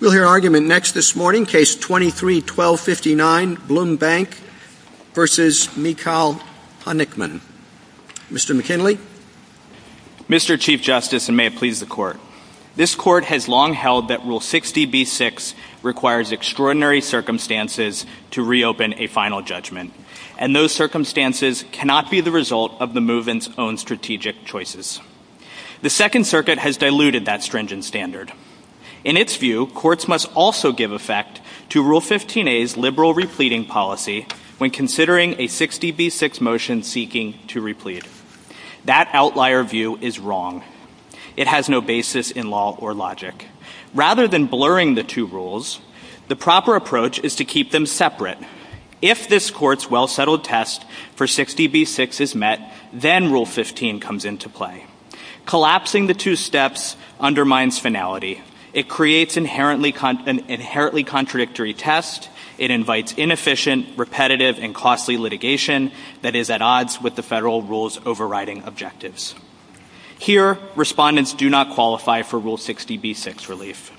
We'll hear argument next this morning, Case 23-1259, BLOM Bank v. Michal Honickman. Mr. McKinley. Mr. Chief Justice, and may it please the Court, this Court has long held that Rule 60b-6 requires extraordinary circumstances to reopen a final judgment, and those circumstances cannot be the result of the movement's own strategic choices. The Second Circuit has diluted that stringent standard. In its view, courts must also give effect to Rule 15a's liberal repleting policy when considering a 60b-6 motion seeking to replete. That outlier view is wrong. It has no basis in law or logic. Rather than blurring the two rules, the proper approach is to keep them separate. If this Court's well-settled test for 60b-6 is met, then Rule 15 comes into play. Collapsing the two steps undermines finality. It creates an inherently contradictory test. It invites inefficient, repetitive, and costly litigation that is at odds with the federal rule's overriding objectives. Here, respondents do not qualify for Rule 60b-6 relief.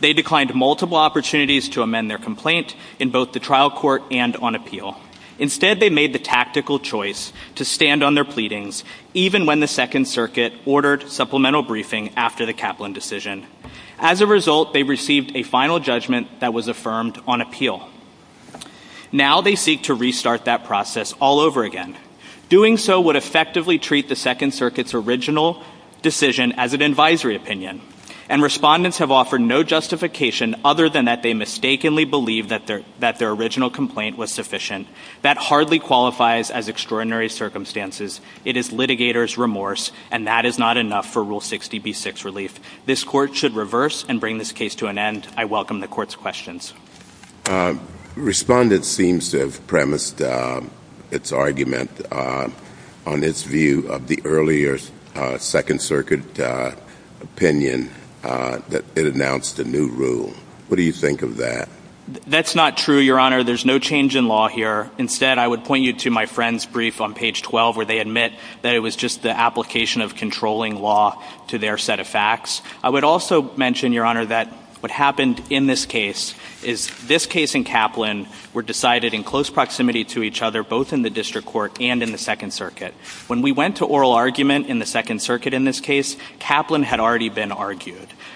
They declined multiple opportunities to amend their complaint in both the trial court and on appeal. Instead, they made the choice to stand on their pleadings, even when the Second Circuit ordered supplemental briefing after the Kaplan decision. As a result, they received a final judgment that was affirmed on appeal. Now they seek to restart that process all over again. Doing so would effectively treat the Second Circuit's original decision as an advisory opinion, and respondents have offered no justification other than that they mistakenly believed that their original complaint was That hardly qualifies as extraordinary circumstances. It is litigator's remorse, and that is not enough for Rule 60b-6 relief. This Court should reverse and bring this case to an end. I welcome the Court's questions. Respondent seems to have premised its argument on its view of the earlier Second Circuit opinion that it announced a new rule. What do you think of that? That's not true, Your Honor. There's no change in law here. Instead, I would point you to my friend's brief on page 12, where they admit that it was just the application of controlling law to their set of facts. I would also mention, Your Honor, that what happened in this case is this case and Kaplan were decided in close proximity to each other, both in the District Court and in the Second Circuit. When we went to oral argument in the Second Circuit in this case, Kaplan had argued.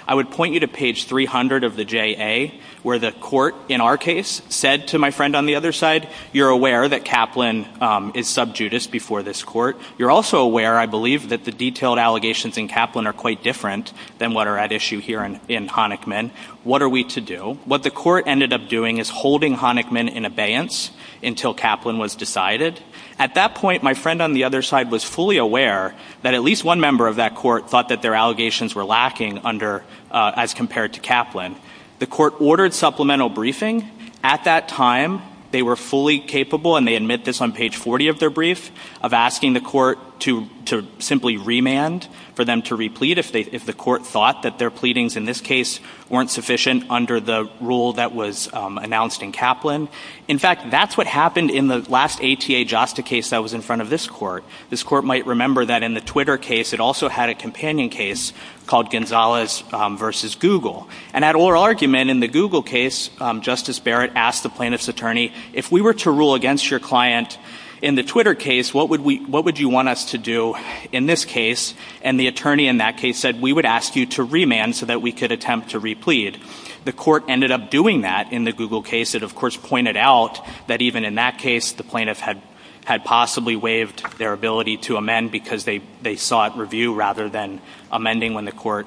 I would point you to page 300 of the JA, where the Court in our case said to my friend on the other side, you're aware that Kaplan is sub judice before this Court. You're also aware, I believe, that the detailed allegations in Kaplan are quite different than what are at issue here in Honickman. What are we to do? What the Court ended up doing is holding Honickman in abeyance until Kaplan was decided. At that point, my friend on the other side was fully aware that at least one Court thought that their allegations were lacking as compared to Kaplan. The Court ordered supplemental briefing. At that time, they were fully capable, and they admit this on page 40 of their brief, of asking the Court to simply remand for them to replete if the Court thought that their pleadings in this case weren't sufficient under the rule that was announced in Kaplan. In fact, that's what happened in the last ATA JASTA case that was in front of this Court. This Court might remember that in the Twitter case, it also had a companion case called Gonzalez versus Google. And at oral argument in the Google case, Justice Barrett asked the plaintiff's attorney, if we were to rule against your client in the Twitter case, what would you want us to do in this case? And the attorney in that case said, we would ask you to remand so that we could attempt to replete. The Court ended up doing that in the Google case. It, of course, pointed out that even in that case, the plaintiff had possibly waived their ability to amend because they sought review rather than amending when the Court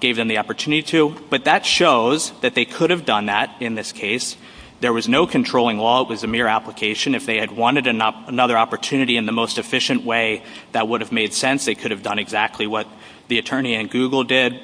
gave them the opportunity to. But that shows that they could have done that in this case. There was no controlling law. It was a mere application. If they had wanted another opportunity in the most efficient way that would have made sense, they could have done exactly what the attorney in Google did.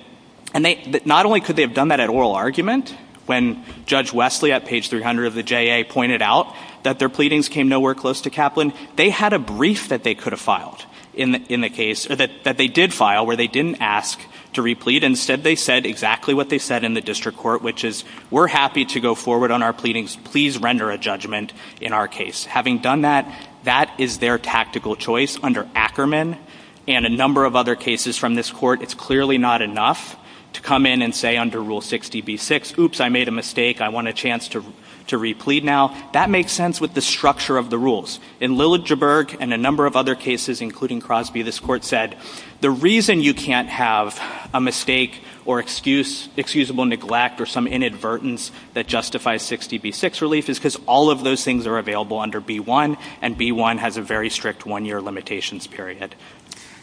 And not only could they have done that at oral argument, when Judge Wesley at page 300 of the JA pointed out that their pleadings came nowhere close to Kaplan, they had a brief that they could have filed in the case, that they did file, where they didn't ask to replete. Instead, they said exactly what they said in the district court, which is, we're happy to go forward on our pleadings. Please render a judgment in our case. Having done that, that is their tactical choice under Ackerman and a number of other cases from this Court, it's clearly not enough to come in and say under rule 60B6, oops, I made a mistake, I want a chance to replete now. That makes sense with the structure of the rules. In Liljeburg and a number of other cases, including Crosby, this Court said, the reason you can't have a mistake or excusable neglect or some inadvertence that justifies 60B6 relief is because all of those things are available under B1, and B1 has a very strict one-year limitations period.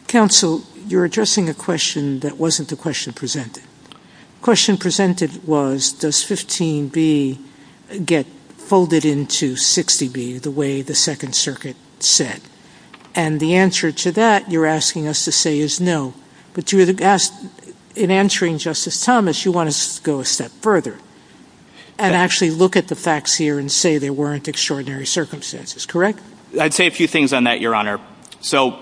Counsel, you're addressing a question that wasn't the question presented. The question presented was, does 15B get folded into 60B, the way the Second Circuit said? And the answer to that, you're asking us to say is no. But in answering Justice Thomas, you want us to go a step further and actually look at the facts here and say there weren't extraordinary circumstances, correct? I'd say a few things on that, Your Honor. So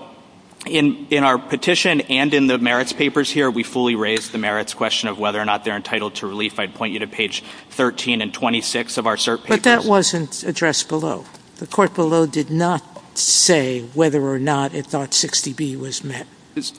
in our petition and in the merits papers here, we fully raised the merits question of whether or not they're entitled to relief. I'd point you to page 13 and 26 of our cert papers. But that wasn't addressed below. The Court below did not say whether or not it thought 60B was met.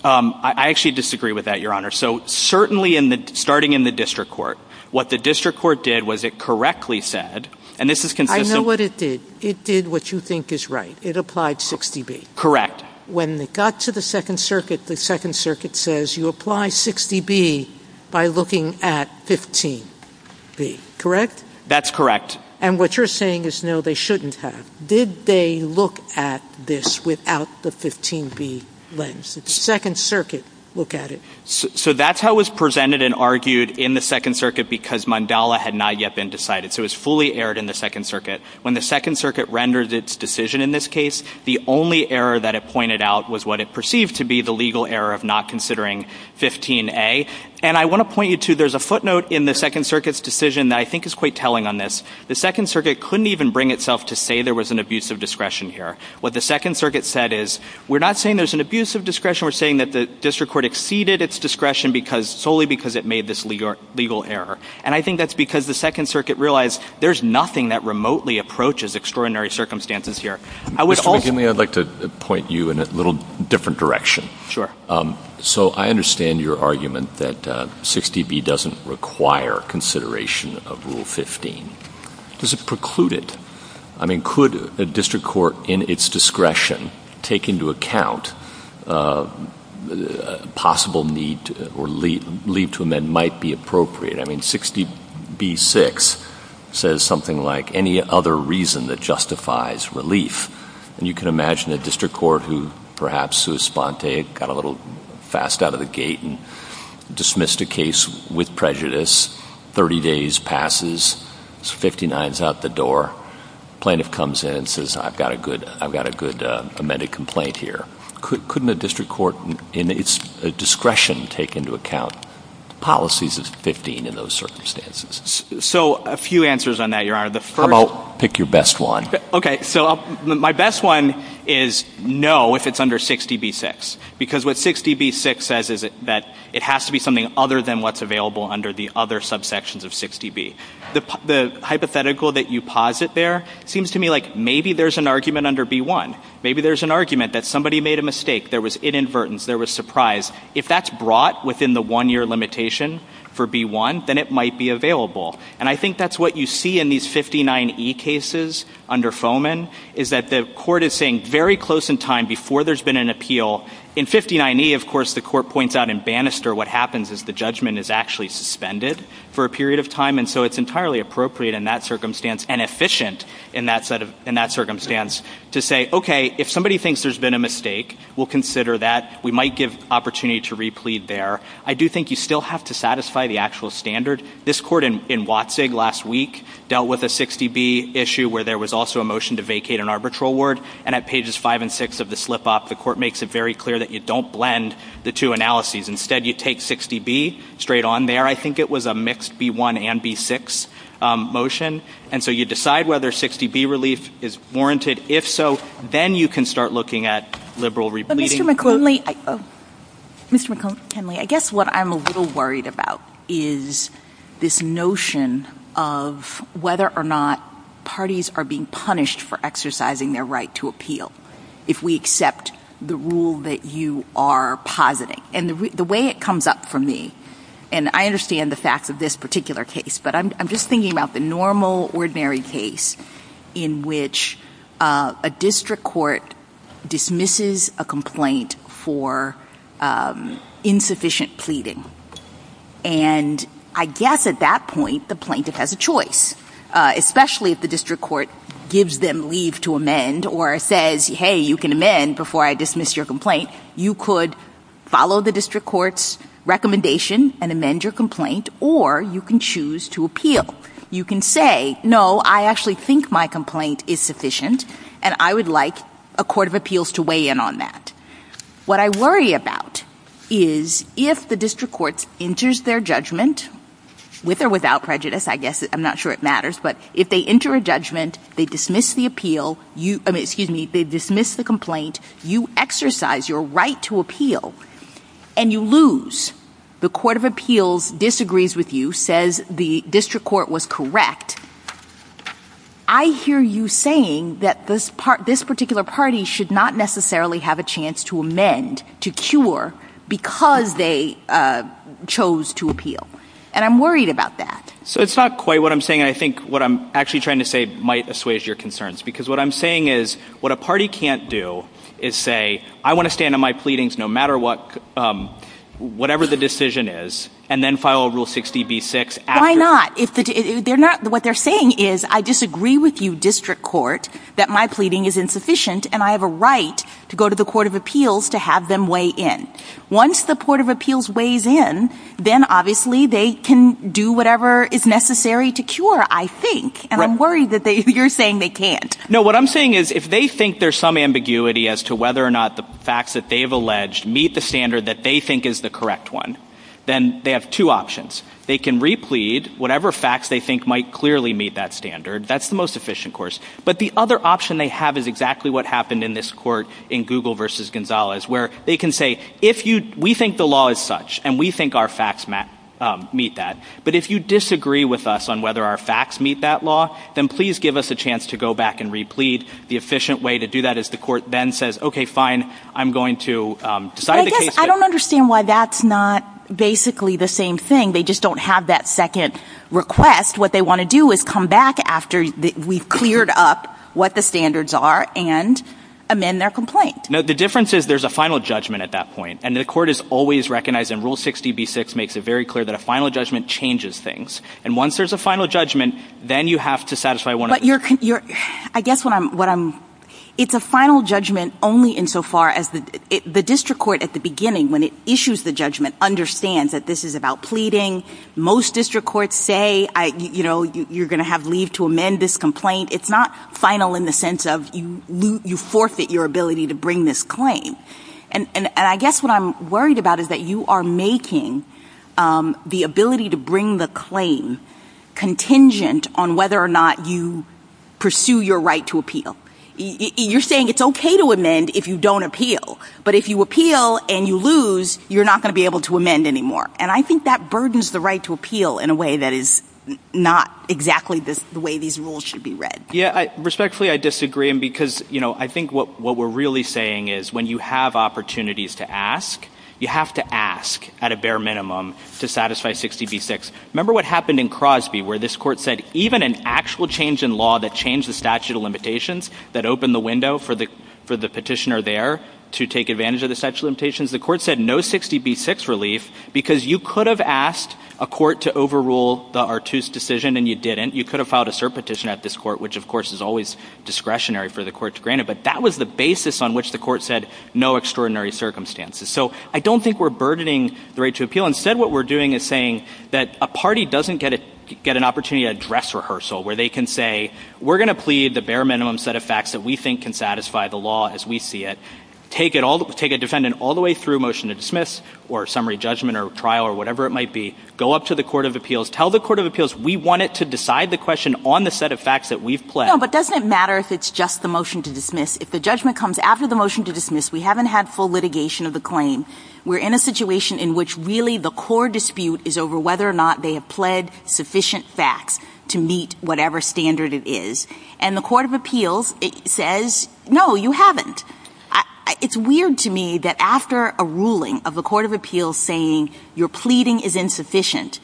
I actually disagree with that, Your Honor. So certainly, starting in the District Court, what the District Court did was it correctly said, and this is consistent. I know what it did. It did what you think is right. It applied 60B. Correct. When it got to the Second Circuit, the Second Circuit says you apply 60B by looking at 15B, correct? That's correct. And what you're saying is no, they shouldn't have. Did they look at this without the 15B lens? Did the Second Circuit look at it? So that's how it was presented and argued in the Second Circuit because Mandala had not yet been decided. So it was fully aired in the Second Circuit. When the Second Circuit rendered its decision in this case, the only error that it pointed out was what it perceived to be the legal error of not considering 15A. And I want to point you to there's a footnote in the Second Circuit's decision that I think is quite telling on this. The Second Circuit couldn't even bring itself to say there was an abuse of discretion here. What the Second Circuit said is, we're not saying there's an abuse of discretion. We're saying that the district court exceeded its discretion solely because it made this legal error. And I think that's because the Second Circuit realized there's nothing that remotely approaches extraordinary circumstances here. Mr. McKinley, I'd like to point you in a little different direction. Sure. So I understand your argument that 60B doesn't require consideration of Rule 15. Does it preclude it? I mean, could a district court in its discretion take into account possible need or leave to amend might be appropriate? I mean, 60B-6 says something like, any other reason that justifies relief. And you can imagine a district court who perhaps sui sponte, got a little fast out of the gate and dismissed a case with prejudice, 30 days passes, 59 is out the door. Plaintiff comes in and says, I've got a good amended complaint here. Couldn't a district court in its discretion take into account policies of 15 in those circumstances? So a few answers on that, Your Honor. How about pick your best one? Okay. So my best one is no, if it's under 60B-6. Because what 60B-6 says is that it has to be something other than what's available under the other subsections of 60B. The hypothetical that you posit there seems to me like maybe there's an argument under B-1. Maybe there's an argument that somebody made a mistake, there was inadvertence, there was surprise. If that's brought within the one-year limitation for B-1, then it might be available. And I think that's what you see in these 59E cases under Fomen, is that the court is saying very close in time before there's been an appeal. In 59E, of course, the court points out in Bannister, what happens is the judgment is actually suspended for a period of time. And so it's entirely appropriate in that and efficient in that circumstance to say, okay, if somebody thinks there's been a mistake, we'll consider that. We might give opportunity to replead there. I do think you still have to satisfy the actual standard. This court in Watzig last week dealt with a 60B issue where there was also a motion to vacate an arbitral ward. And at pages 5 and 6 of the slip-up, the court makes it very clear that you don't blend the two analyses. Instead, you take 60B straight on there. I think it was a mixed B-1 and B-6 motion. And so you decide whether 60B relief is warranted. If so, then you can start looking at liberal repleading. But Mr. McKinley, I guess what I'm a little worried about is this notion of whether or not parties are being punished for exercising their right to appeal if we accept the rule that you are positing. And the way it comes up for me, and I understand the facts of this particular case, but I'm just thinking about the normal, ordinary case in which a district court dismisses a complaint for insufficient pleading. And I guess at that point, the plaintiff has a choice, especially if the district court gives them leave to amend or says, hey, you can amend before I dismiss your complaint. You could follow the district court's recommendation and amend your complaint, or you can choose to appeal. You can say, no, I actually think my complaint is sufficient, and I would like a court of appeals to weigh in on that. What I worry about is if the district court enters their judgment, with or without prejudice, I guess I'm not sure it matters, but if they enter a judgment, they dismiss the appeal, excuse me, they dismiss the complaint, you exercise your right to appeal, and you lose, the court of appeals disagrees with you, says the district court was correct, I hear you saying that this particular party should not necessarily have a chance to amend, to cure, because they chose to appeal. And I'm worried about that. So it's not quite what I'm saying. I think what I'm actually trying to say might assuage your concerns. Because what I'm saying is, what a party can't do is say, I want to stand on my pleadings no matter what, whatever the decision is, and then file rule 60B-6. Why not? What they're saying is, I disagree with you, district court, that my pleading is insufficient, and I have a right to go to the court of appeals to have them weigh in. Once the court of appeals weighs in, then obviously they can do whatever is necessary to cure, I think. And I'm worried that you're saying they can't. No, what I'm saying is, if they think there's some ambiguity as to whether or not the facts that they've alleged meet the standard that they think is the correct one, then they have two options. They can replete whatever facts they think might clearly meet that standard, that's the most efficient course. But the other option they have is exactly what happened in this court in Google versus Gonzalez, where they can say, we think the law is such, and we think our facts meet that. But if you disagree with us on whether our facts meet that law, then please give us a chance to go back and replete. The efficient way to do that is the court then says, okay, fine, I'm going to decide the case. I don't understand why that's not basically the same thing. They just don't have that second request. What they want to do is come back after we've cleared up what the standards are and amend their complaint. No, the difference is there's a final judgment at that point. And the court is always recognizing rule 60 B six makes it very clear that a final judgment changes things. And once there's a final judgment, then you have to satisfy one of your, your, I guess what I'm, what I'm, it's a final judgment only in so far as the district court at the beginning, when it issues, the judgment understands that this is about pleading. Most district courts say, I, you know, you're going to have leave to amend this complaint. It's not final in the sense of you, you forfeit your ability to bring this claim. And, and I guess what I'm worried about is that you are making the ability to bring the claim contingent on whether or not you pursue your right to appeal. You're saying it's okay to amend if you don't appeal, but if you appeal and you lose, you're not going to be able to amend anymore. And I think that burdens the right to appeal in a way that is not exactly this, the way these rules should be read. Yeah. I respectfully, I disagree. And because, you know, I think what, what we're really saying is when you have opportunities to ask, you have to ask at a bare minimum to satisfy 60 B six. Remember what happened in Crosby, where this court said, even an actual change in law that changed the statute of limitations that opened the window for the, for the petitioner there to take advantage of the statute limitations, the court said no 60 B six relief, because you could have asked a court to overrule the Artus decision and you didn't, you could have filed a cert petition at this court, which of course is always discretionary for the court to grant it. But that was the basis on which the court said no extraordinary circumstances. So I don't think we're burdening the right to appeal. Instead, what we're doing is saying that a party doesn't get it, get an opportunity to address rehearsal where they can say, we're going to plead the bare minimum set of facts that we think can satisfy the law as we see it. Take it all, take a defendant all the way through motion to dismiss or summary judgment or trial or whatever it might be, go up to the court of appeals, tell the court of appeals, we want it to decide the question on the set of facts that we've pledged. But doesn't it matter if it's just the motion to dismiss? If the judgment comes after the motion to dismiss, we haven't had full litigation of the claim. We're in a situation in which really the core dispute is over whether or not they have pled sufficient facts to meet whatever standard it is. And the court of appeals says, no, you haven't. It's weird to me that after a ruling of a court of appeals saying your pleading is insufficient,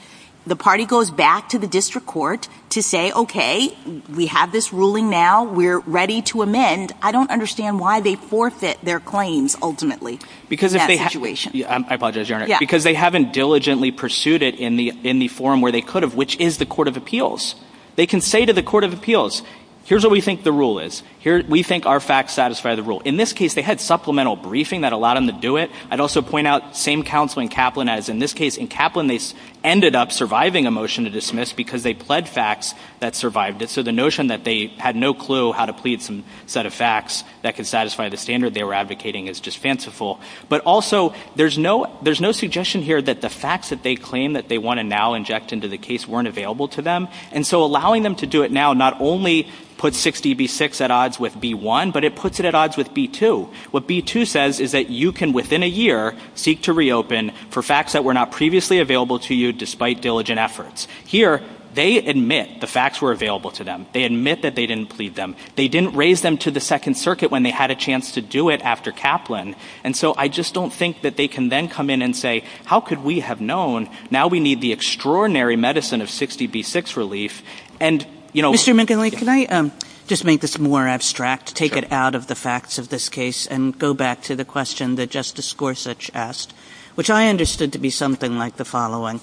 the party goes back to the district court to say, okay, we have this ruling now, we're ready to amend. I don't understand why they forfeit their claims ultimately in that situation. I apologize, Your Honor. Because they haven't diligently pursued it in the forum where they could have, which is the court of appeals. They can say to the court of appeals, here's what we think the rule is. Here, we think our facts satisfy the rule. In this case, they had supplemental briefing that allowed them to do it. I'd also point out the same counsel in Kaplan as in this case. In Kaplan, they ended up surviving a motion to dismiss because they pled facts that survived it. So the notion that they had no clue how to plead some set of facts that could satisfy the standard they were advocating is just fanciful. But also, there's no suggestion here that the facts that they claim that they want to now inject into the case weren't available to them. And so allowing them to do it now not only puts 60B6 at odds with B1, but it puts it at odds with B2. What B2 says is that you can, within a year, seek to reopen for facts that were not previously available to you despite diligent efforts. Here, they admit the facts were available to them. They admit that they didn't plead them. They didn't raise them to the Second Circuit when they had a chance to do it after Kaplan. And so I just don't think that they can then come in and say, how could we have known? Now we need the extraordinary medicine of 60B6 relief. And, you know... Mr. McGinley, can I just make this more abstract, take it out of the facts of this and go back to the question that Justice Gorsuch asked, which I understood to be something like the following.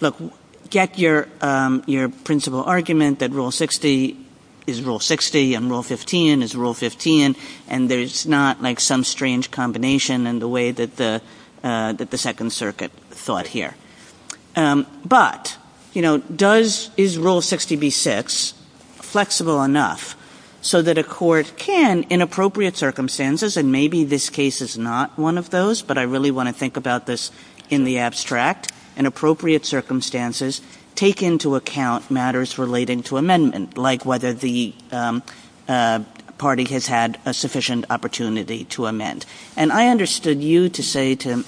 Look, get your principal argument that Rule 60 is Rule 60 and Rule 15 is Rule 15, and there's not like some strange combination in the way that the Second Circuit thought here. But, you know, does, is Rule 60B6 flexible enough so that a court can, in appropriate circumstances, and maybe this case is not one of those, but I really want to think about this in the abstract, in appropriate circumstances, take into account matters relating to amendment, like whether the party has had a sufficient opportunity to amend. And I understood you to say to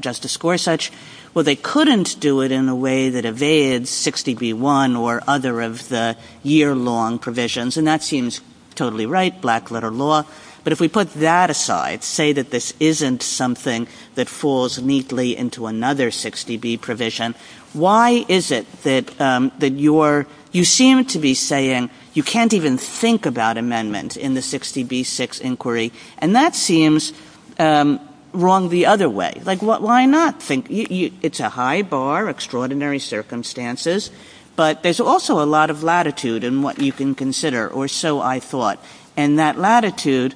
Justice Gorsuch, well, they couldn't do it in a way that evades 60B1 or other of the year-long provisions. And that seems totally right, black letter law. But if we put that aside, say that this isn't something that falls neatly into another 60B provision, why is it that, that you're, you seem to be saying you can't even think about amendment in the 60B6 inquiry. And that seems wrong the other way. Like what, why not think, it's a high bar, extraordinary circumstances, but there's also a lot of latitude in what you can consider, or so I thought. And that latitude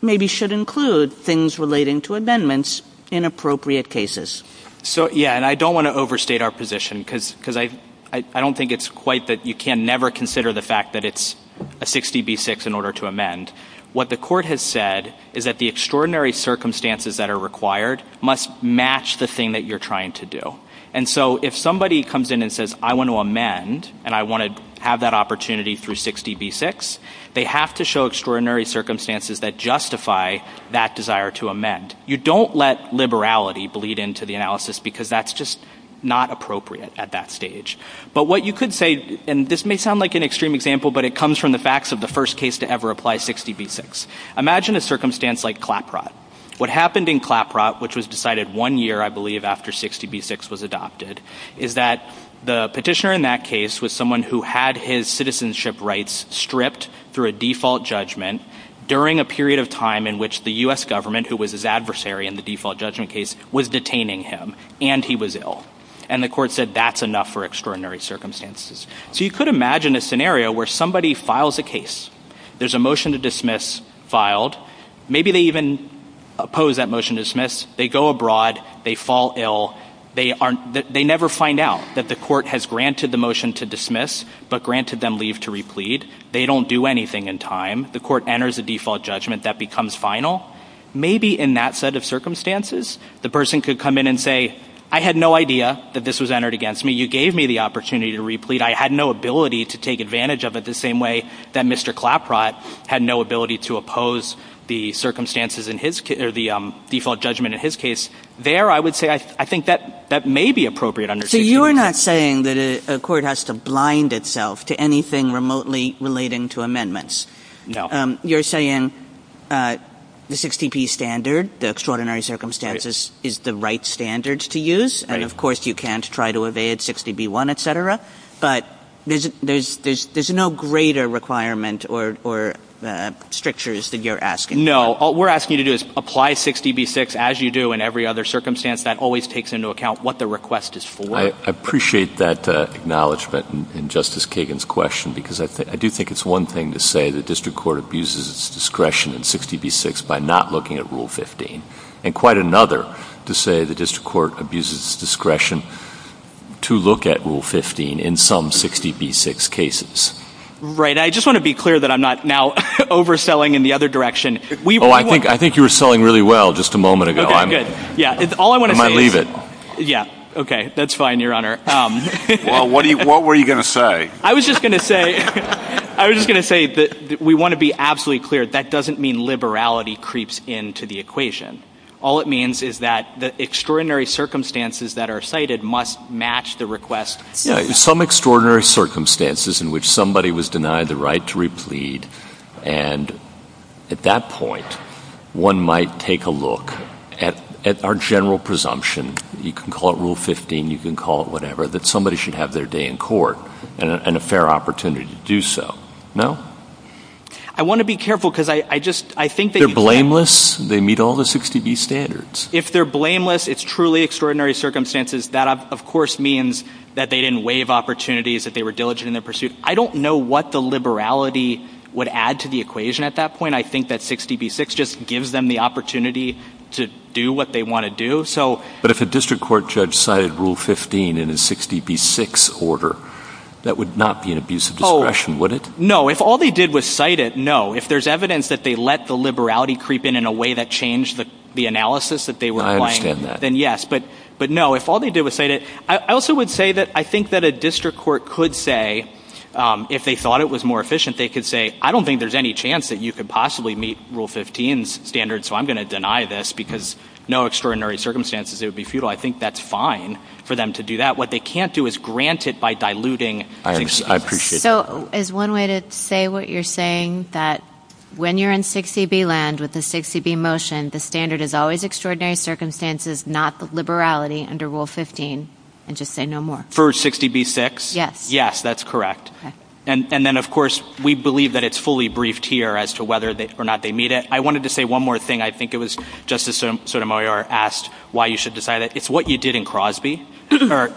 maybe should include things relating to amendments in appropriate cases. So yeah, and I don't want to overstate our position because, because I, I don't think it's quite that you can never consider the fact that it's a 60B6 in order to amend. What the court has said is that the extraordinary circumstances that are required must match the thing that you're trying to do. And so if somebody comes in and says, I want to amend, and I want to have that opportunity through 60B6, they have to show extraordinary circumstances that justify that desire to amend. You don't let liberality bleed into the analysis because that's just not appropriate at that stage. But what you could say, and this may sound like an extreme example, but it comes from the facts of the first case to ever apply 60B6. Imagine a circumstance like ClapRot. What happened in ClapRot, which was decided one year I believe after 60B6 was adopted, is that the petitioner in that case was someone who had his citizenship rights stripped through a default judgment during a period of time in which the U.S. government, who was his adversary in the default judgment case, was detaining him, and he was ill. And the court said that's enough for extraordinary circumstances. So you could imagine a scenario where somebody files a case. There's a motion to dismiss filed. Maybe they even oppose that motion to dismiss. They go abroad. They fall ill. They never find out that the court has granted the motion to dismiss, but granted them leave to replead. They don't do anything in time. The court enters a default judgment that becomes final. Maybe in that set of circumstances, the person could come in and say, I had no idea that this was entered against me. You gave me the opportunity to replead. I had no ability to take advantage of it the same way that Mr. ClapRot had no ability to oppose the circumstances or the default judgment in his case. There, I would say, I think that may be appropriate under 60B6. So you're not saying that a court has to blind itself to anything remotely relating to amendments? No. You're saying the 60P standard, the extraordinary circumstances, is the right standard to use. And of course, you can't try to evade 60B1, et cetera. But there's no greater requirement or strictures that you're asking. No. All we're asking you to do is apply 60B6 as you do in every other circumstance. That always takes into account what the request is for. I appreciate that acknowledgement in Justice Kagan's question, because I do think it's one thing to say the district court abuses its discretion in 60B6 by not looking at Rule 15, and quite another to say the district court abuses its discretion to look at Rule 15 in some 60B6 cases. Right. I just want to be clear that I'm not now overselling in the other direction. Oh, I think you were selling really well just a moment ago. I might leave it. Yeah. Okay. That's fine, Your Honor. Well, what were you going to say? I was just going to say that we want to be absolutely clear. That doesn't mean liberality creeps into the equation. All it means is that the extraordinary circumstances that are cited must match the request. Yeah. Some extraordinary circumstances in which somebody was denied the right to replead, and at that point, one might take a look at our general presumption, you can call it Rule 15, you can call it whatever, that somebody should have their day in court. And a fair opportunity to do so. No? I want to be careful because I just, I think that They're blameless. They meet all the 60B standards. If they're blameless, it's truly extraordinary circumstances. That, of course, means that they didn't waive opportunities, that they were diligent in their pursuit. I don't know what the liberality would add to the equation at that point. I think that 60B6 just gives them the opportunity to do what they want to do. But if a district court cited Rule 15 in a 60B6 order, that would not be an abuse of discretion, would it? No. If all they did was cite it, no. If there's evidence that they let the liberality creep in in a way that changed the analysis that they were applying, then yes. I understand that. But no, if all they did was cite it, I also would say that I think that a district court could say, if they thought it was more efficient, they could say, I don't think there's any chance that you could possibly meet Rule 15's standards, so I'm going to deny this because no extraordinary circumstances, it would be futile. I think that's fine for them to do that. What they can't do is grant it by diluting. I appreciate that. So is one way to say what you're saying, that when you're in 60B land with a 60B motion, the standard is always extraordinary circumstances, not the liberality under Rule 15, and just say no more? For 60B6? Yes. Yes, that's correct. And then, of course, we believe that it's fully briefed here as to whether or not they meet it. I wanted to say one more thing. I think it was Justice Sotomayor asked why you should decide it. It's what you did in Crosby. There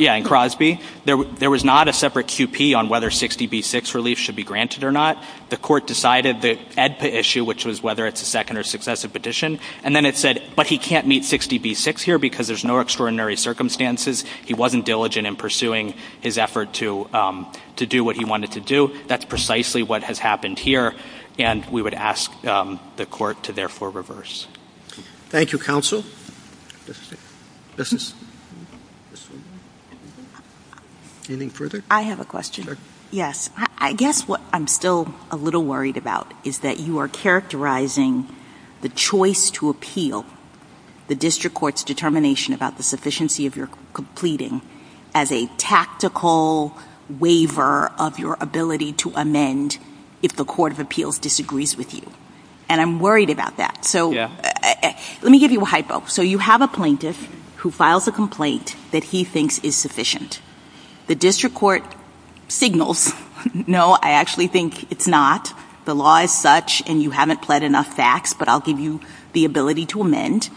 was not a separate QP on whether 60B6 relief should be granted or not. The court decided the EDPA issue, which was whether it's a second or successive petition, and then it said, but he can't meet 60B6 here because there's no extraordinary circumstances. He wasn't diligent in pursuing his effort to do what he wanted to do. That's precisely what has happened here, and we would ask the court to therefore reverse. Thank you, counsel. Anything further? I have a question. Yes. I guess what I'm still a little worried about is that you are characterizing the choice to appeal the district court's determination about the sufficiency of your pleading as a tactical waiver of your ability to amend if the court of appeals disagrees with you. And I'm worried about that. So let me give you a hypo. So you have a plaintiff who files a complaint that he thinks is sufficient. The district court signals, no, I actually think it's not. The law is such, and you haven't pled enough facts, but I'll give you the ability to amend.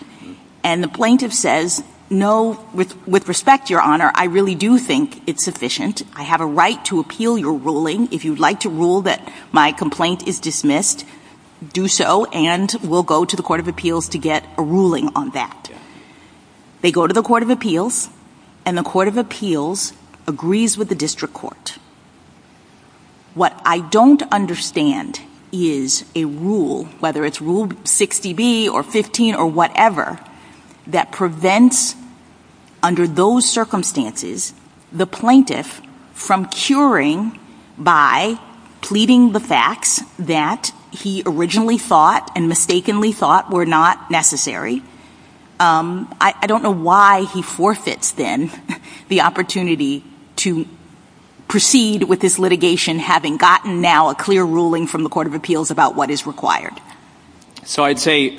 And the plaintiff says, no, with respect, your honor, I really do think it's sufficient. I have a right to appeal your ruling. If you'd like to rule that my complaint is dismissed, do so, and we'll go to the court of appeals to get a ruling on that. They go to the court of appeals, and the court of appeals agrees with the district court. What I don't understand is a rule, whether it's rule 60B or 15 or whatever, that prevents, under those circumstances, the plaintiff from curing by pleading the facts that he originally thought and mistakenly thought were not necessary. I don't know why he forfeits then the opportunity to proceed with this litigation having gotten now a clear ruling from the court of appeals about what is required. So I'd say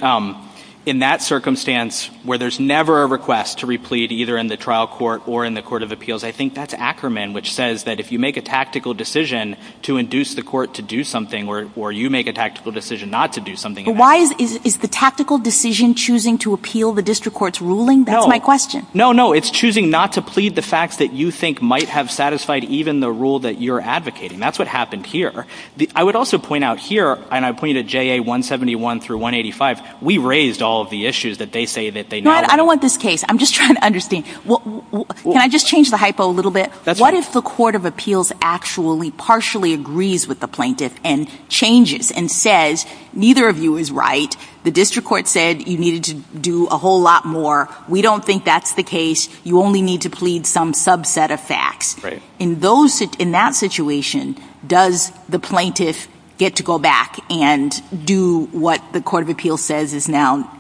in that circumstance where there's never a request to replete either in the trial court or in the court of appeals, I think that's Ackerman, which says that if you make a tactical decision to induce the court to do something or you make a tactical decision not to do something. But why is the tactical decision choosing to appeal the district court's ruling? That's my question. No, no, it's choosing not to plead the facts that you think might have satisfied even the rule that you're advocating. That's what happened here. I would also point out here, and I point you to JA 171 through 185, we raised all of the issues that they say that they know. I don't want this case. I'm just trying to understand. Can I just change the hypo a little bit? What if the court of appeals actually partially agrees with the plaintiff and changes and says, neither of you is right. The district court said you needed to do a whole lot more. We don't think that's the case. You only need to some subset of facts. In that situation, does the plaintiff get to go back and do what the court of appeals says is now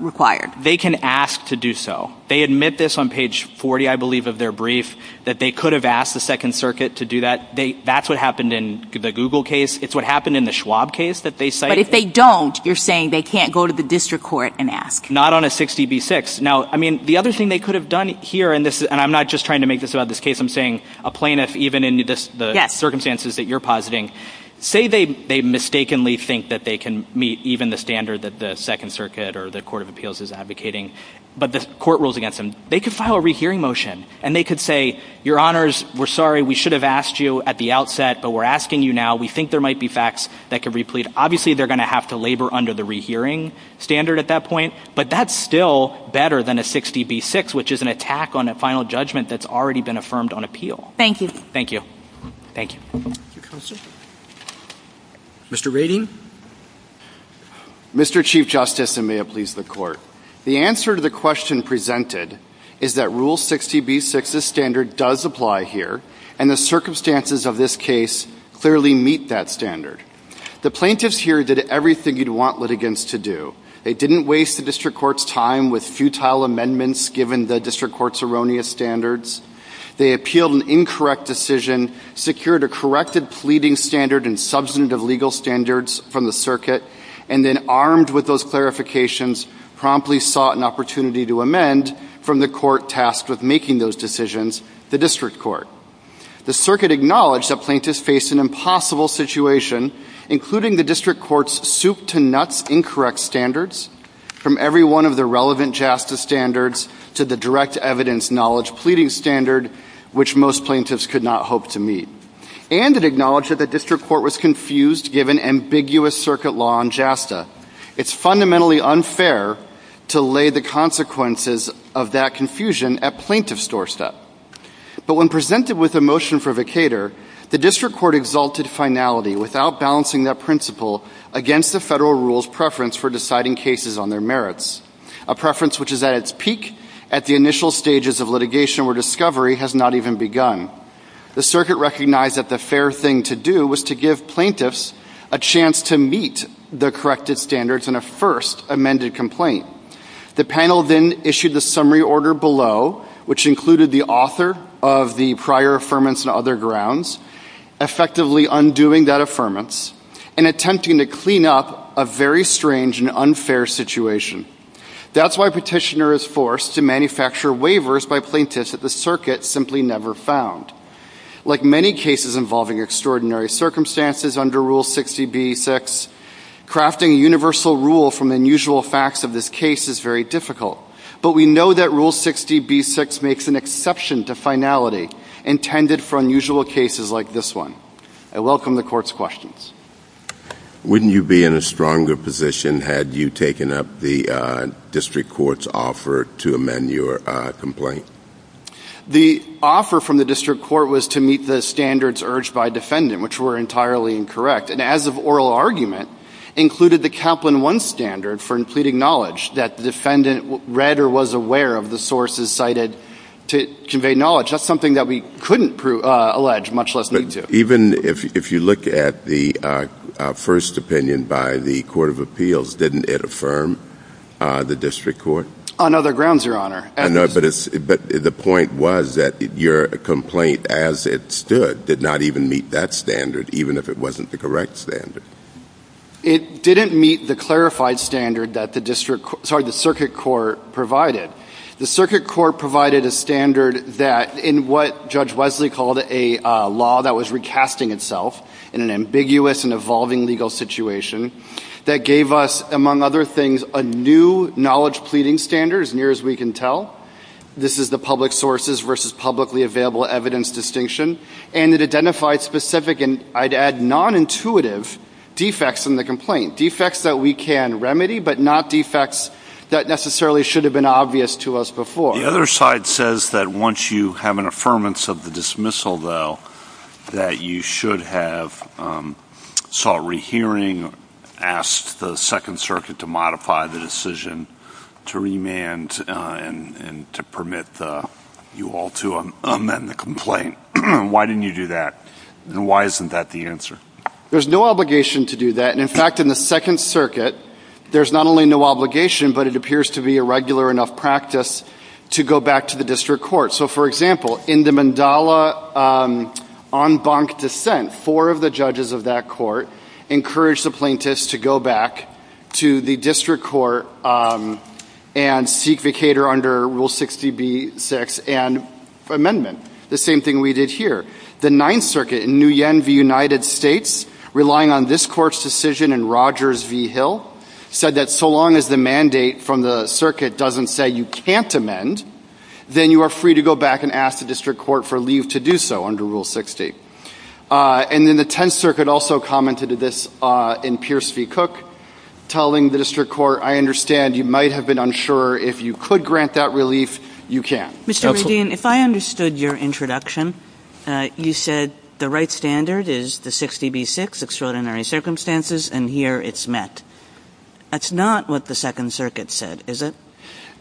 required? They can ask to do so. They admit this on page 40, I believe, of their brief, that they could have asked the second circuit to do that. That's what happened in the Google case. It's what happened in the Schwab case that they cited. But if they don't, you're saying they can't go to the district court and ask? Not on a 60B6. Now, I mean, the other thing they could have done here, and I'm not just trying to make this about this case, I'm saying a plaintiff, even in the circumstances that you're positing, say they mistakenly think that they can meet even the standard that the second circuit or the court of appeals is advocating, but the court rules against them. They could file a rehearing motion and they could say, your honors, we're sorry. We should have asked you at the outset, but we're asking you now. We think there might be facts that could replete. Obviously, they're going to have to labor under the rehearing standard at that point, but that's still better than a 60B6, which is an attack on a final judgment that's already been affirmed on appeal. Thank you. Thank you. Thank you. Mr. Rating. Mr. Chief Justice, and may it please the court. The answer to the question presented is that Rule 60B6's standard does apply here, and the circumstances of this case clearly meet that standard. The plaintiffs here did everything you'd want litigants to do. They didn't waste the district court's time with futile amendments given the district court's erroneous standards. They appealed an incorrect decision, secured a corrected pleading standard and substantive legal standards from the circuit, and then armed with those clarifications, promptly sought an opportunity to amend from the court tasked with making those decisions, the district court. The circuit acknowledged that plaintiffs faced an impossible situation, including the district court's soup-to-nuts incorrect standards from every one of the relevant JASTA standards to the direct evidence knowledge pleading standard, which most plaintiffs could not hope to meet. And it acknowledged that the district court was confused given ambiguous circuit law on JASTA. It's fundamentally unfair to lay the consequences of that confusion at plaintiff's doorstep. But when presented with a new indicator, the district court exalted finality without balancing that principle against the federal rule's preference for deciding cases on their merits, a preference which is at its peak at the initial stages of litigation where discovery has not even begun. The circuit recognized that the fair thing to do was to give plaintiffs a chance to meet the corrected standards in a first amended complaint. The panel then issued the summary order below, which included the author of the prior affirmance and other grounds, effectively undoing that affirmance and attempting to clean up a very strange and unfair situation. That's why petitioner is forced to manufacture waivers by plaintiffs that the circuit simply never found. Like many cases involving extraordinary circumstances under Rule 60B-6, crafting universal rule from unusual facts of this case is very difficult. But we know Rule 60B-6 makes an exception to finality intended for unusual cases like this one. I welcome the court's questions. Wouldn't you be in a stronger position had you taken up the district court's offer to amend your complaint? The offer from the district court was to meet the standards urged by defendant, which were entirely incorrect. And as of oral argument, included the Kaplan 1 standard for pleading knowledge that the defendant read or was aware of the sources cited to convey knowledge. That's something that we couldn't allege, much less need to. Even if you look at the first opinion by the court of appeals, didn't it affirm the district court? On other grounds, Your Honor. But the point was that your complaint as it stood did not even meet that standard, even if it wasn't the correct standard. It didn't meet the clarified standard that the circuit court provided. The circuit court provided a standard that in what Judge Wesley called a law that was recasting itself in an ambiguous and evolving legal situation that gave us, among other things, a new knowledge pleading standard, as near as we can tell. This is the public sources available evidence distinction. And it identified specific and I'd add nonintuitive defects in the complaint. Defects that we can remedy, but not defects that necessarily should have been obvious to us before. The other side says that once you have an affirmance of the dismissal, though, that you should have sought rehearing, asked the second circuit to modify the decision to remand and to permit you all to amend the complaint. Why didn't you do that? And why isn't that the answer? There's no obligation to do that. In fact, in the second circuit, there's not only no obligation, but it appears to be a regular enough practice to go back to the district court. So, for example, in the Mandala en banc dissent, four of the judges of that court encouraged the plaintiffs to go back to the district court and seek vacator under rule 60B6 and amendment. The same thing we did here. The ninth circuit, in New Yen v. United States, relying on this court's decision in Rogers v. Hill, said that so long as the mandate from the circuit doesn't say you can't amend, then you are free to go back and ask the district court for leave to do so under rule 60. And then the tenth circuit also commented to this in Pierce v. Cook, telling the district court, I understand you might have been unsure. If you could grant that relief, you can't. Mr. Radin, if I understood your introduction, you said the right standard is the 60B6, extraordinary circumstances, and here it's met. That's not what the second circuit said, is it?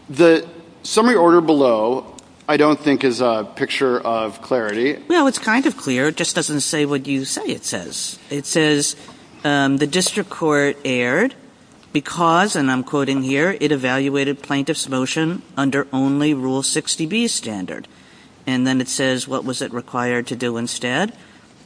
The summary order below I don't think is a picture of clarity. Well, it's kind of clear. It just doesn't say what you say it says. It says the district court erred because, and I'm quoting here, it evaluated plaintiff's motion under only rule 60B standard. And then it says what was it required to do instead?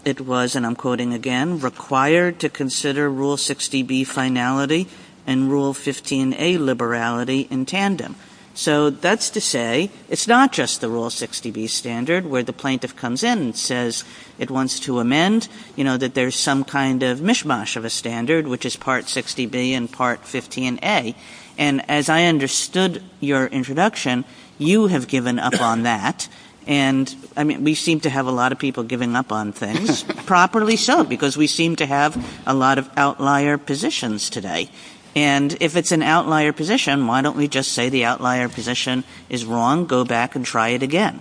It was, and I'm quoting again, required to consider rule 60B finality and rule 15A liberality in tandem. So that's to say it's not just the rule 60B standard where the plaintiff comes in and says it wants to amend, you know, that there's some kind of mishmash of a standard, which is part 60B and part 15A. And as I understood your introduction, you have given up on that. And, I mean, we seem to have a lot of people giving up on things, properly so, because we seem to have a lot of outlier positions today. And if it's an outlier position, why don't we just say the outlier position is wrong, go back and try it again?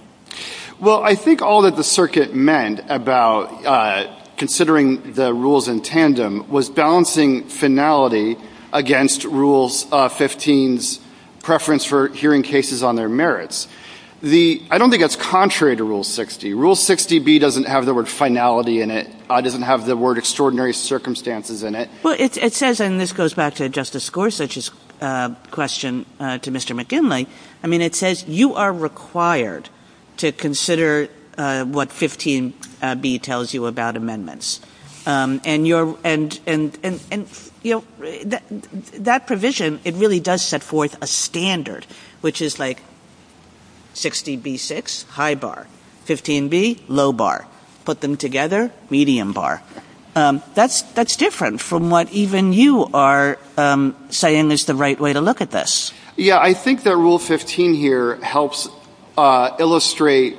Well, I think all that the circuit meant about considering the rules in tandem was balancing finality against rule 15's preference for hearing cases on their merits. The, I don't think that's contrary to rule 60. Rule 60B doesn't have the word finality in it. It doesn't have the word extraordinary circumstances in it. Well, it says, and this goes back to Justice Gorsuch's question to Mr. McKinley, I mean, it says you are required to consider what 15B tells you about amendments. And you're, and, and, and, you know, that provision, it really does set forth a standard, which is like 60B6, high bar, 15B, low bar, put them together, medium bar. That's, that's different from what even you are saying is the right way to look at this. Yeah, I think that rule 15 here helps illustrate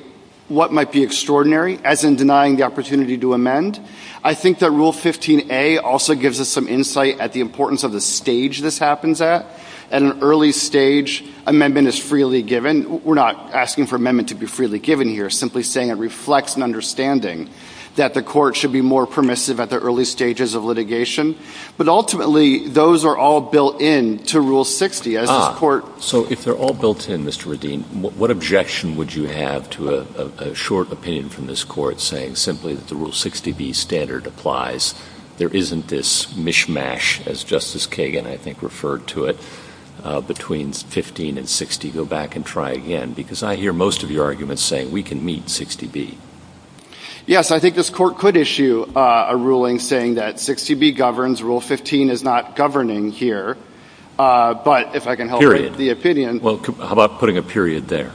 what might be extraordinary as in denying the opportunity to amend. I think that rule 15A also gives us some insight at the importance of the stage this happens at. At an early stage, amendment is freely given. We're not asking for amendment to be freely given here, simply saying it reflects an understanding that the court should be more permissive at the early stages of litigation. But ultimately, those are all built in to rule 60, as this court. So if they're all built in, Mr. Radin, what objection would you have to a short opinion from this court saying simply that the rule 60B standard applies, there isn't this mishmash, as Justice Kagan, I think, referred to it, between 15 and 60, go back and try again, because I hear most of your arguments saying we can meet 60B. Yes, I think this court could issue a ruling saying that 60B governs. Rule 15 is not governing here. But if I can help the opinion. Well, how about putting a period there?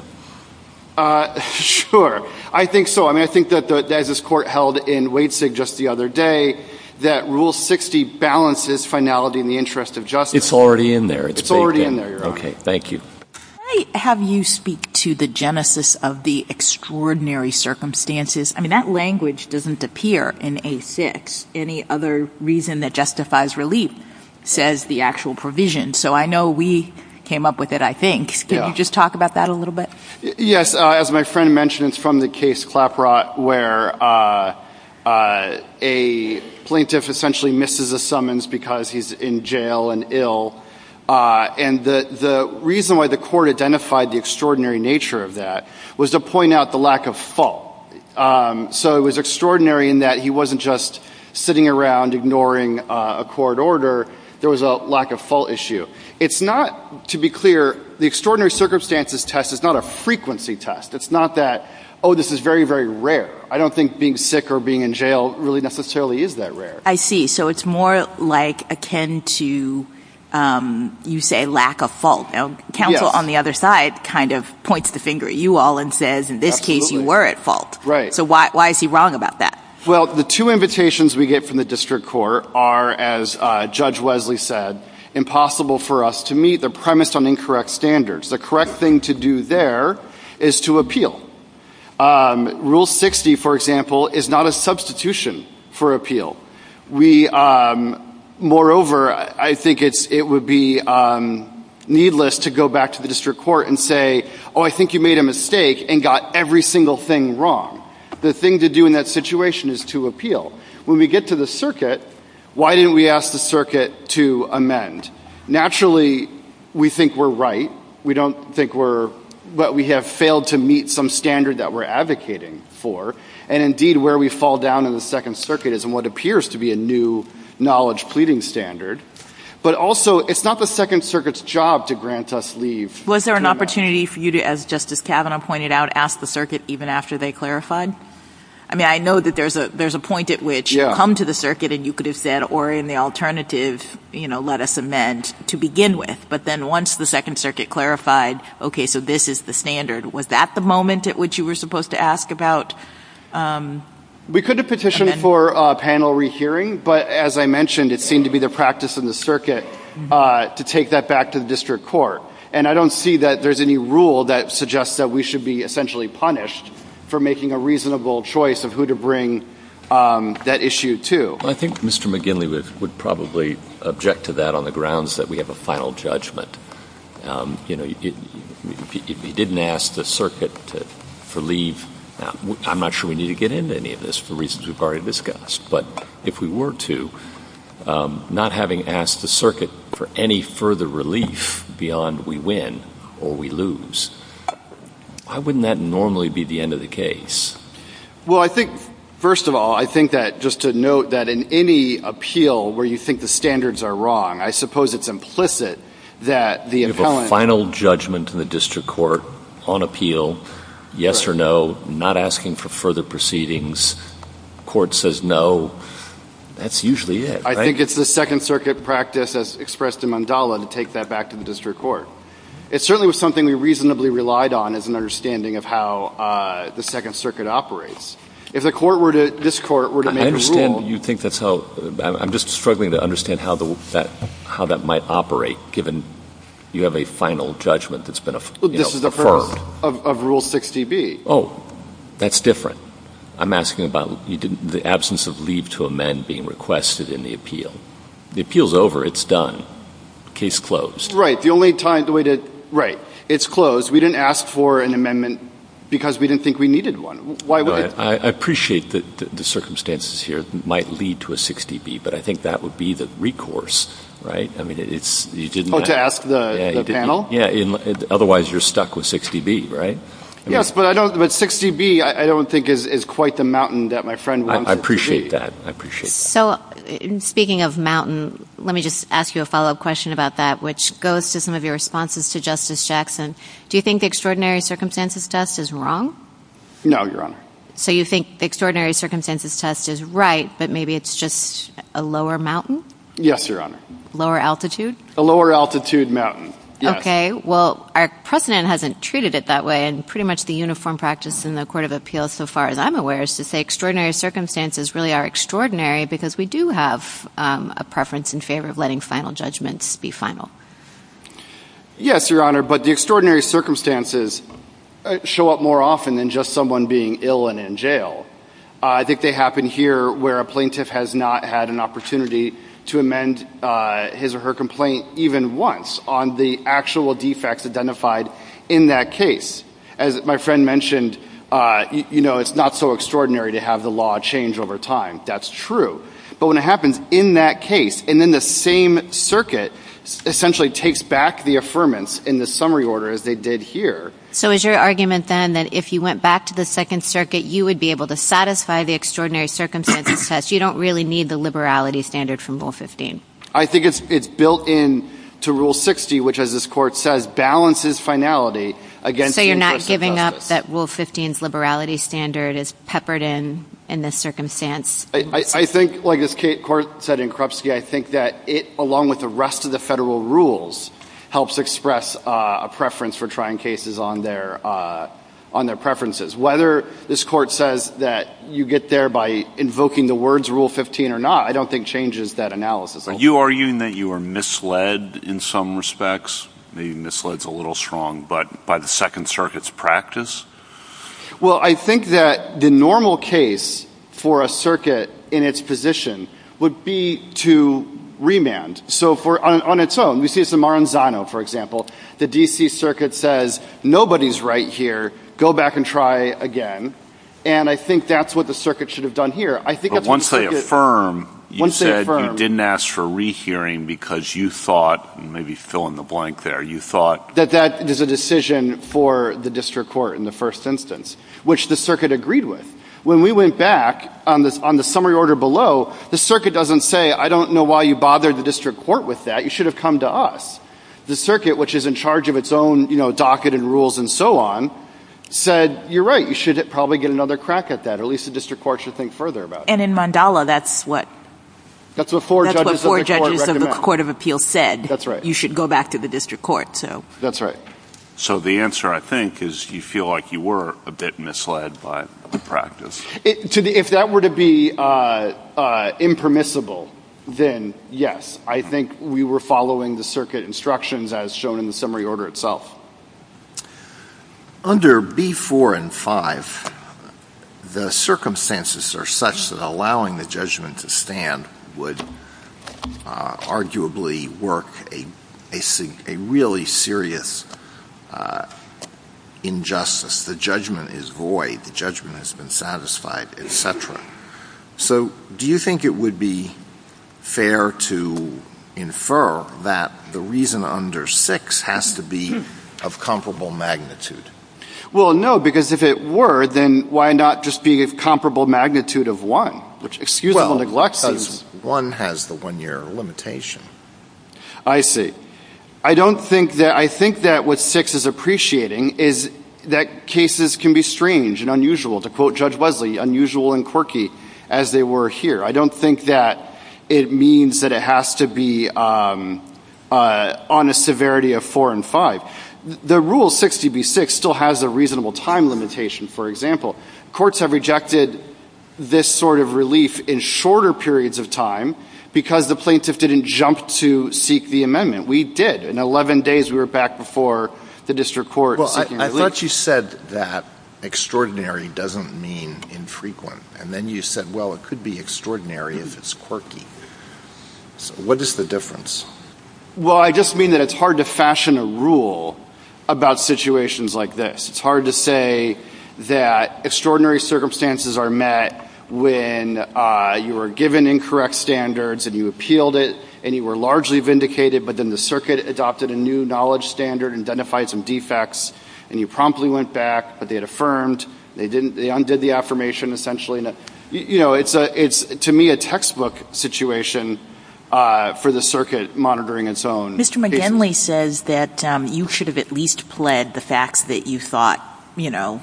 Sure, I think so. I mean, I think that as this court held in Wadesig just the other day, that rule 60 balances finality in the interest of justice. It's already in there. It's already in there. Okay, thank you. Can I have you speak to the genesis of the extraordinary circumstances? I mean, that language doesn't appear in A6. Any other reason that justifies relief says the actual provision. So I know we came up with it, I think. Can you just talk about that a little bit? Yes. As my friend mentioned, it's from the case Claprot, where a plaintiff essentially misses a summons because he's in jail and ill. And the reason why the court identified the extraordinary nature of that was to point out the lack of fault. So it was extraordinary in that he wasn't just sitting around ignoring a court order. There was a lack of fault issue. It's not, to be clear, the extraordinary circumstances test is not a frequency test. It's not that, oh, this is very, very rare. I don't think being sick or akin to, you say, lack of fault. Now, counsel on the other side kind of points the finger at you all and says, in this case, you were at fault. So why is he wrong about that? Well, the two invitations we get from the district court are, as Judge Wesley said, impossible for us to meet. They're premised on incorrect standards. The correct thing to do there is to appeal. Rule 60, for example, is not a substitution for appeal. We, moreover, I think it's, it would be needless to go back to the district court and say, oh, I think you made a mistake and got every single thing wrong. The thing to do in that situation is to appeal. When we get to the circuit, why didn't we ask the circuit to amend? Naturally, we think we're right. We don't think we're, but we have to meet some standard that we're advocating for. And indeed, where we fall down in the Second Circuit is in what appears to be a new knowledge pleading standard. But also, it's not the Second Circuit's job to grant us leave. Was there an opportunity for you to, as Justice Kavanaugh pointed out, ask the circuit even after they clarified? I mean, I know that there's a, there's a point at which you come to the circuit and you could have said, or in the alternative, you know, let us amend to begin with. But then once the Second Circuit clarified, okay, so this is the standard. Was that the moment at which you were supposed to ask about? We could have petitioned for a panel rehearing, but as I mentioned, it seemed to be the practice in the circuit to take that back to the district court. And I don't see that there's any rule that suggests that we should be essentially punished for making a reasonable choice of who to bring that issue to. I think Mr. McGinley would probably object to that on the grounds that we have a final judgment. You know, he didn't ask the circuit for leave. Now, I'm not sure we need to get into any of this for reasons we've already discussed, but if we were to, not having asked the circuit for any further relief beyond we win or we lose, why wouldn't that normally be the end of the case? Well, I think, first of all, I think that just to note that in any appeal where you think the standards are wrong, I suppose it's implicit that the appellant... You have a final judgment in the district court on appeal, yes or no, not asking for further proceedings, court says no, that's usually it, right? I think it's the second circuit practice as expressed in Mandala to take that back to the district court. It certainly was something we reasonably relied on as an understanding of how the second circuit operates. If the court were to, this court were to make a rule... I understand you think that's how, I'm just struggling to understand how that might operate given you have a final judgment that's been affirmed. This is the first of rule 60B. Oh, that's different. I'm asking about the absence of leave to amend being requested in the appeal. The appeal's over. It's done. Case closed. Right. The only time, the way to, right. It's closed. We didn't ask for an amendment because we didn't think we needed one. Why would... I appreciate the circumstances here might lead to a 60B, but I think that would be the recourse, right? I mean, it's, you didn't... Oh, to ask the panel? Yeah, otherwise you're stuck with 60B, right? Yes, but I don't, but 60B, I don't think is quite the mountain that my friend... I appreciate that. I appreciate that. So, speaking of mountain, let me just ask you a follow-up question about that, which goes to some of your responses to Justice Jackson. Do you think the extraordinary circumstances test is right, but maybe it's just a lower mountain? Yes, Your Honor. Lower altitude? A lower altitude mountain. Yes. Okay. Well, our precedent hasn't treated it that way, and pretty much the uniform practice in the Court of Appeals, so far as I'm aware, is to say extraordinary circumstances really are extraordinary because we do have a preference in favor of letting final judgments be final. Yes, Your Honor, but the extraordinary circumstances show up more often than just someone being ill and in jail. I think they happen here where a plaintiff has not had an opportunity to amend his or her complaint even once on the actual defects identified in that case. As my friend mentioned, you know, it's not so extraordinary to have the law change over time. That's true. But when it happens in that case, and then the same circuit essentially takes back the affirmance in the summary order, as they did here. So is your argument then that if you went back to the Second Circuit, you would be able to satisfy the extraordinary circumstances test? You don't really need the liberality standard from Rule 15? I think it's built in to Rule 60, which, as this Court says, balances finality against the interest of justice. So you're not giving up that Rule 15's liberality standard is peppered in in this circumstance? I think, like this Court said in Krupski, I think that it, along with the rest of the federal rules, helps express a preference for trying cases on their preferences. Whether this Court says that you get there by invoking the words Rule 15 or not, I don't think changes that analysis. Are you arguing that you were misled in some respects? Maybe misled is a little strong, but by the Second Circuit's practice? Well, I think that the normal case for a circuit in its position would be to remand. So on its own. We see this in Maranzano, for example. The D.C. Circuit says, nobody's right here, go back and try again. And I think that's what the Circuit should have done here. But once they affirm, you said you didn't ask for rehearing because you thought, maybe fill in the blank there, you thought? That that is a decision for the District Court in the first instance, which the Circuit agreed with. When we went back on the summary order below, the Circuit doesn't say, I don't know why you bothered the District Court with that. You should have come to us. The Circuit, which is in charge of its own docket and rules and so on, said, you're right, you should probably get another crack at that. Or at least the District Court should think further about it. And in Mandala, that's what? That's what four judges of the Court of Appeals said. You should go back to the District Court, so. That's right. So the answer, I think, is you feel like you were a bit misled by the practice. If that were to be impermissible, then yes. I think we were following the Circuit instructions as shown in the summary order itself. Under B4 and 5, the circumstances are such that allowing the judgment to stand would arguably work a really serious injustice. The judgment is void. The judgment has been satisfied, et cetera. So do you think it would be fair to infer that the reason under 6 has to be of comparable magnitude? Well, no, because if it were, then why not just be of comparable magnitude of 1? Well, because 1 has the one-year limitation. I see. I think that what 6 is appreciating is that cases can be strange and unusual, to quote Judge Wesley, unusual and quirky as they were here. I don't think that it means that it still has a reasonable time limitation, for example. Courts have rejected this sort of relief in shorter periods of time because the plaintiff didn't jump to seek the amendment. We did. In 11 days, we were back before the District Court. Well, I thought you said that extraordinary doesn't mean infrequent. And then you said, well, it could be extraordinary if it's quirky. So what is the difference? Well, I just mean that it's hard to fashion a rule about situations like this. It's hard to say that extraordinary circumstances are met when you were given incorrect standards, and you appealed it, and you were largely vindicated, but then the circuit adopted a new knowledge standard and identified some defects, and you promptly went back, but they had affirmed. They undid the affirmation, essentially. It's, to me, a textbook situation for the circuit monitoring its own cases. Mr. McGinley says that you should have at least pled the facts that you thought, you know,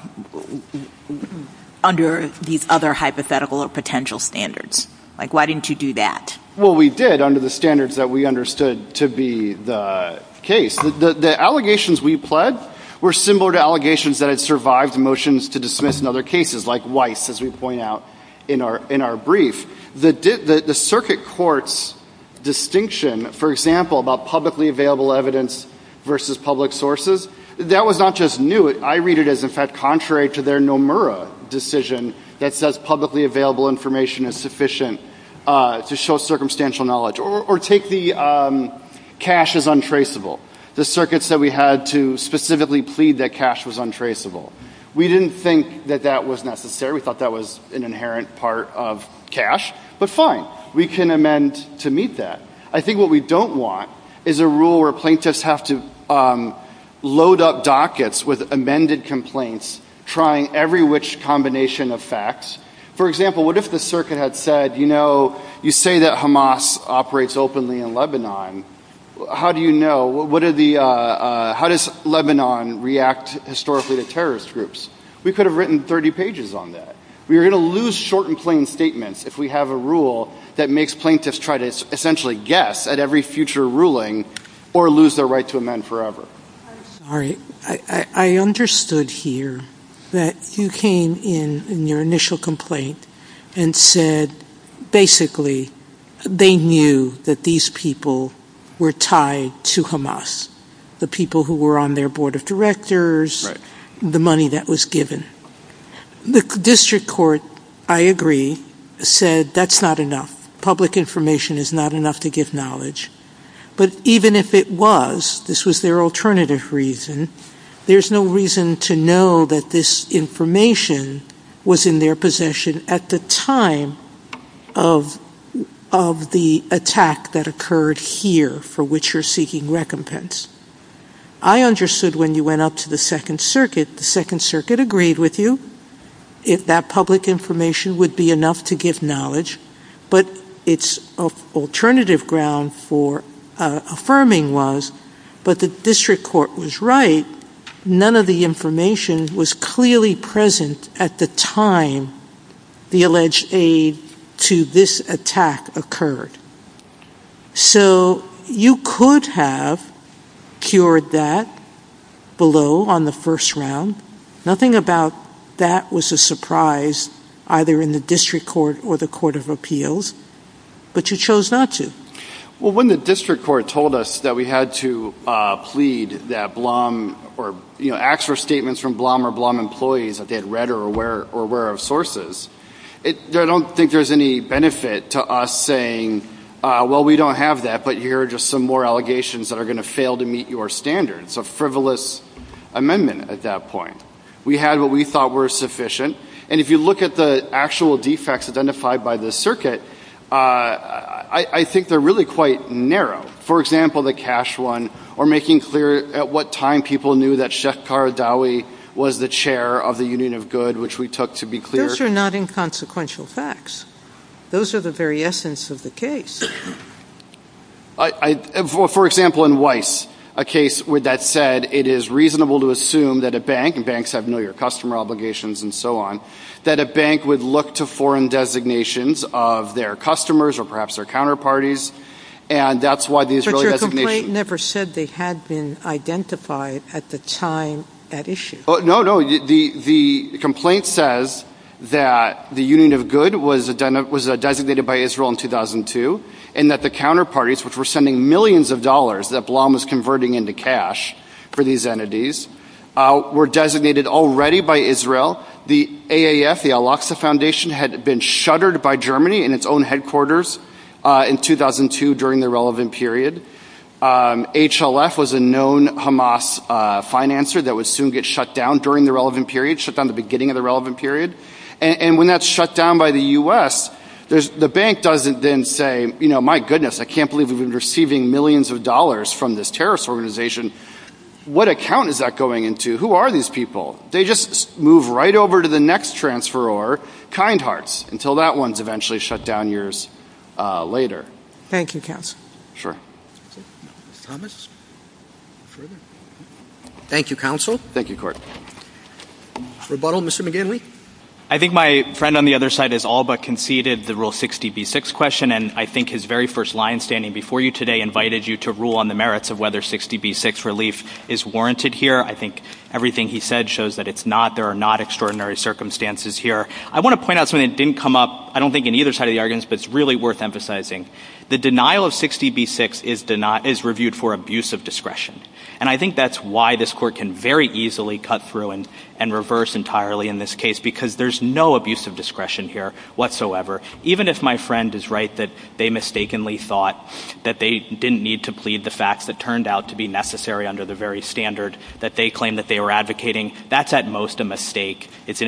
under these other hypothetical or potential standards. Like, why didn't you do that? Well, we did, under the standards that we understood to be the case. The allegations we pled were similar to allegations that had survived motions to dismiss in other cases, like Weiss, as we point out in our brief. The circuit court's distinction, for example, about publicly available evidence versus public sources, that was not just new. I read it as, in fact, contrary to their Nomura decision that says publicly available information is sufficient to show circumstantial knowledge. Or take the cash as untraceable. The circuit said we had to specifically plead that cash was untraceable. We didn't think that that was necessary. We thought that was an inherent part of cash. But fine. We can amend to meet that. I think what we don't want is a rule where plaintiffs have to load up dockets with amended complaints, trying every which combination of facts. For example, what if the circuit had said, you know, you say that Hamas operates openly in Lebanon. How do you know? What are the ‑‑ how does Lebanon react historically to terrorist groups? We could have written 30 pages on that. We would lose short and statements if we have a rule that makes plaintiffs try to guess at every future ruling or lose their right to amend forever. I'm sorry. I understood here that you came in in your initial complaint and said basically they knew that these people were tied to Hamas. The people who were on their said that's not enough. Public information is not enough to give knowledge. But even if it was, this was their alternative reason, there's no reason to know that this information was in their possession at the time of the attack that occurred here for which you're seeking recompense. I understood when you went up to the Second Circuit, the Second Circuit agreed with you if that public information would be enough to give knowledge. But its alternative ground for affirming was, but the district court was right, none of the information was clearly present at the time the alleged aid to this attack occurred. So you could have cured that below on the first round. Nothing about that was a surprise either in the district court or the court of appeals. But you chose not to. Well, when the district court told us that we had to plead that Blum, or, you know, ask for statements from Blum or Blum employees that they had read or were aware of sources, I don't think there's any benefit to us saying, well, we don't have that, but here are just some more allegations that are going to fail to meet your standards. A frivolous amendment at that point. We had what we thought was sufficient. And if you look at the actual defects identified by the circuit, I think they're really quite narrow. For example, the cash one, or making clear at what time people knew that Shekhar Dawi was the chair of the union of good, which we took to be clear. Those are not inconsequential facts. Those are the very essence of the case. I, for example, in Weiss, a case with that said, it is reasonable to assume that a bank and banks have no your customer obligations and so on, that a bank would look to foreign designations of their customers or perhaps their counterparties. And that's why these really never said they had been identified at the time at issue. No, no, the, the complaint says that the union of good was designated by Israel in 2002 and that the counterparties, which were sending millions of dollars that Blom was converting into cash for these entities, were designated already by Israel. The AAF, the Al-Aqsa Foundation had been shuttered by Germany in its own headquarters in 2002 during the relevant period. HLF was a known Hamas financer that would soon get shut down during the relevant period, shut down at the beginning of the relevant period. And when that's shut down by the U.S., there's, the bank doesn't then say, you know, my goodness, I can't believe we've been receiving millions of dollars from this terrorist organization. What account is that going into? Who are these people? They just move right over to the next transferor, kind hearts, until that one's eventually shut down years later. Thank you, counsel. Thank you, counsel. I think my friend on the other side has all but conceded the rule 60B6 question and I think his very first line standing before you today invited you to rule on the merits of whether 60B6 relief is warranted here. I think everything he said shows that it's not, there are not extraordinary circumstances here. I want to point out something that didn't come up, I don't think in either side but it's really worth emphasizing. The denial of 60B6 is reviewed for abuse of discretion. And I think that's why this court can very easily cut through and reverse entirely in this case because there's no abuse of discretion here whatsoever. Even if my friend is right that they mistakenly thought that they didn't need to plead the facts that turned out to be necessary under the very standard that they claimed that they were advocating, that's at most a mistake. It's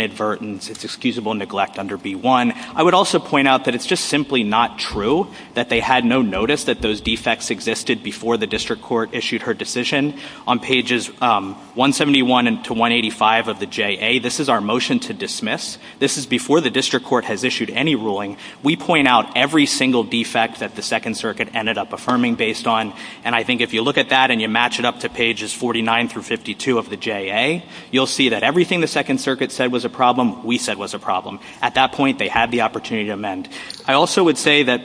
just simply not true that they had no notice that those defects existed before the district court issued her decision. On pages 171 to 185 of the JA, this is our motion to dismiss. This is before the district court has issued any ruling. We point out every single defect that the second circuit ended up affirming based on and I think if you look at that and you match it up to pages 49 through 52 of the JA, you'll see that everything the second circuit said was a problem, we said at that point they had the opportunity to amend. I also would say that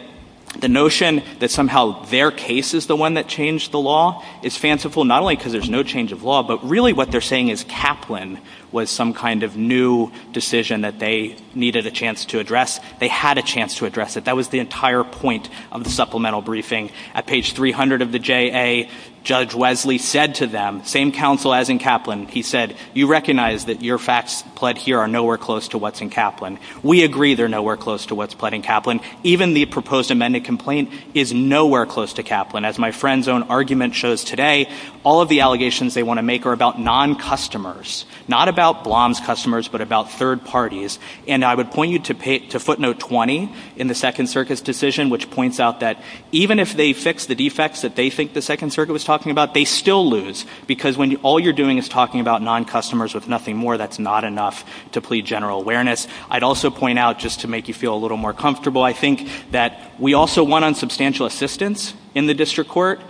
the notion that somehow their case is the one that changed the law is fanciful not only because there's no change of law but really what they're saying is Kaplan was some kind of new decision that they needed a chance to address. They had a chance to address it. That was the entire point of the supplemental briefing. At page 300 of the JA, Judge Wesley said to them, same counsel as in Kaplan, he said, you recognize that your facts pled here are nowhere close to what's in Kaplan. We agree they're nowhere close to what's pled in Kaplan. Even the proposed amended complaint is nowhere close to Kaplan. As my friend's own argument shows today, all of the allegations they want to make are about non-customers. Not about Blom's customers but about third parties. And I would point you to footnote 20 in the second circuit's decision which points out that even if they fix the defects that they think the second circuit was talking about, they still lose because when all you're doing is talking about non-customers with nothing more, that's not enough to plead general awareness. I'd also point out just to make you feel a little more comfortable, I think that we also won on substantial assistance in the district court.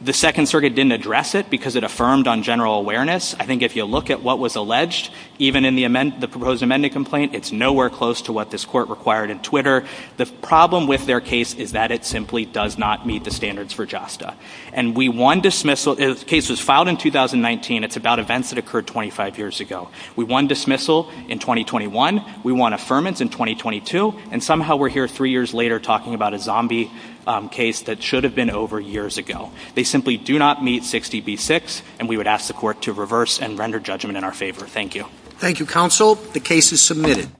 The second circuit didn't address it because it affirmed on general awareness. I think if you look at what was alleged, even in the proposed amended complaint, it's nowhere close to what this court required in Twitter. The problem with their case is that it simply does not meet the standards for JASTA. And we won dismissal. The case was filed in 2019. It's about events that occurred 25 years ago. We won dismissal in 2021. We won affirmance in 2022. And somehow we're here three years later talking about a zombie case that should have been over years ago. They simply do not meet 60B6 and we would ask the court to reverse and render judgment in our favor. Thank you. Thank you, counsel. The case is submitted.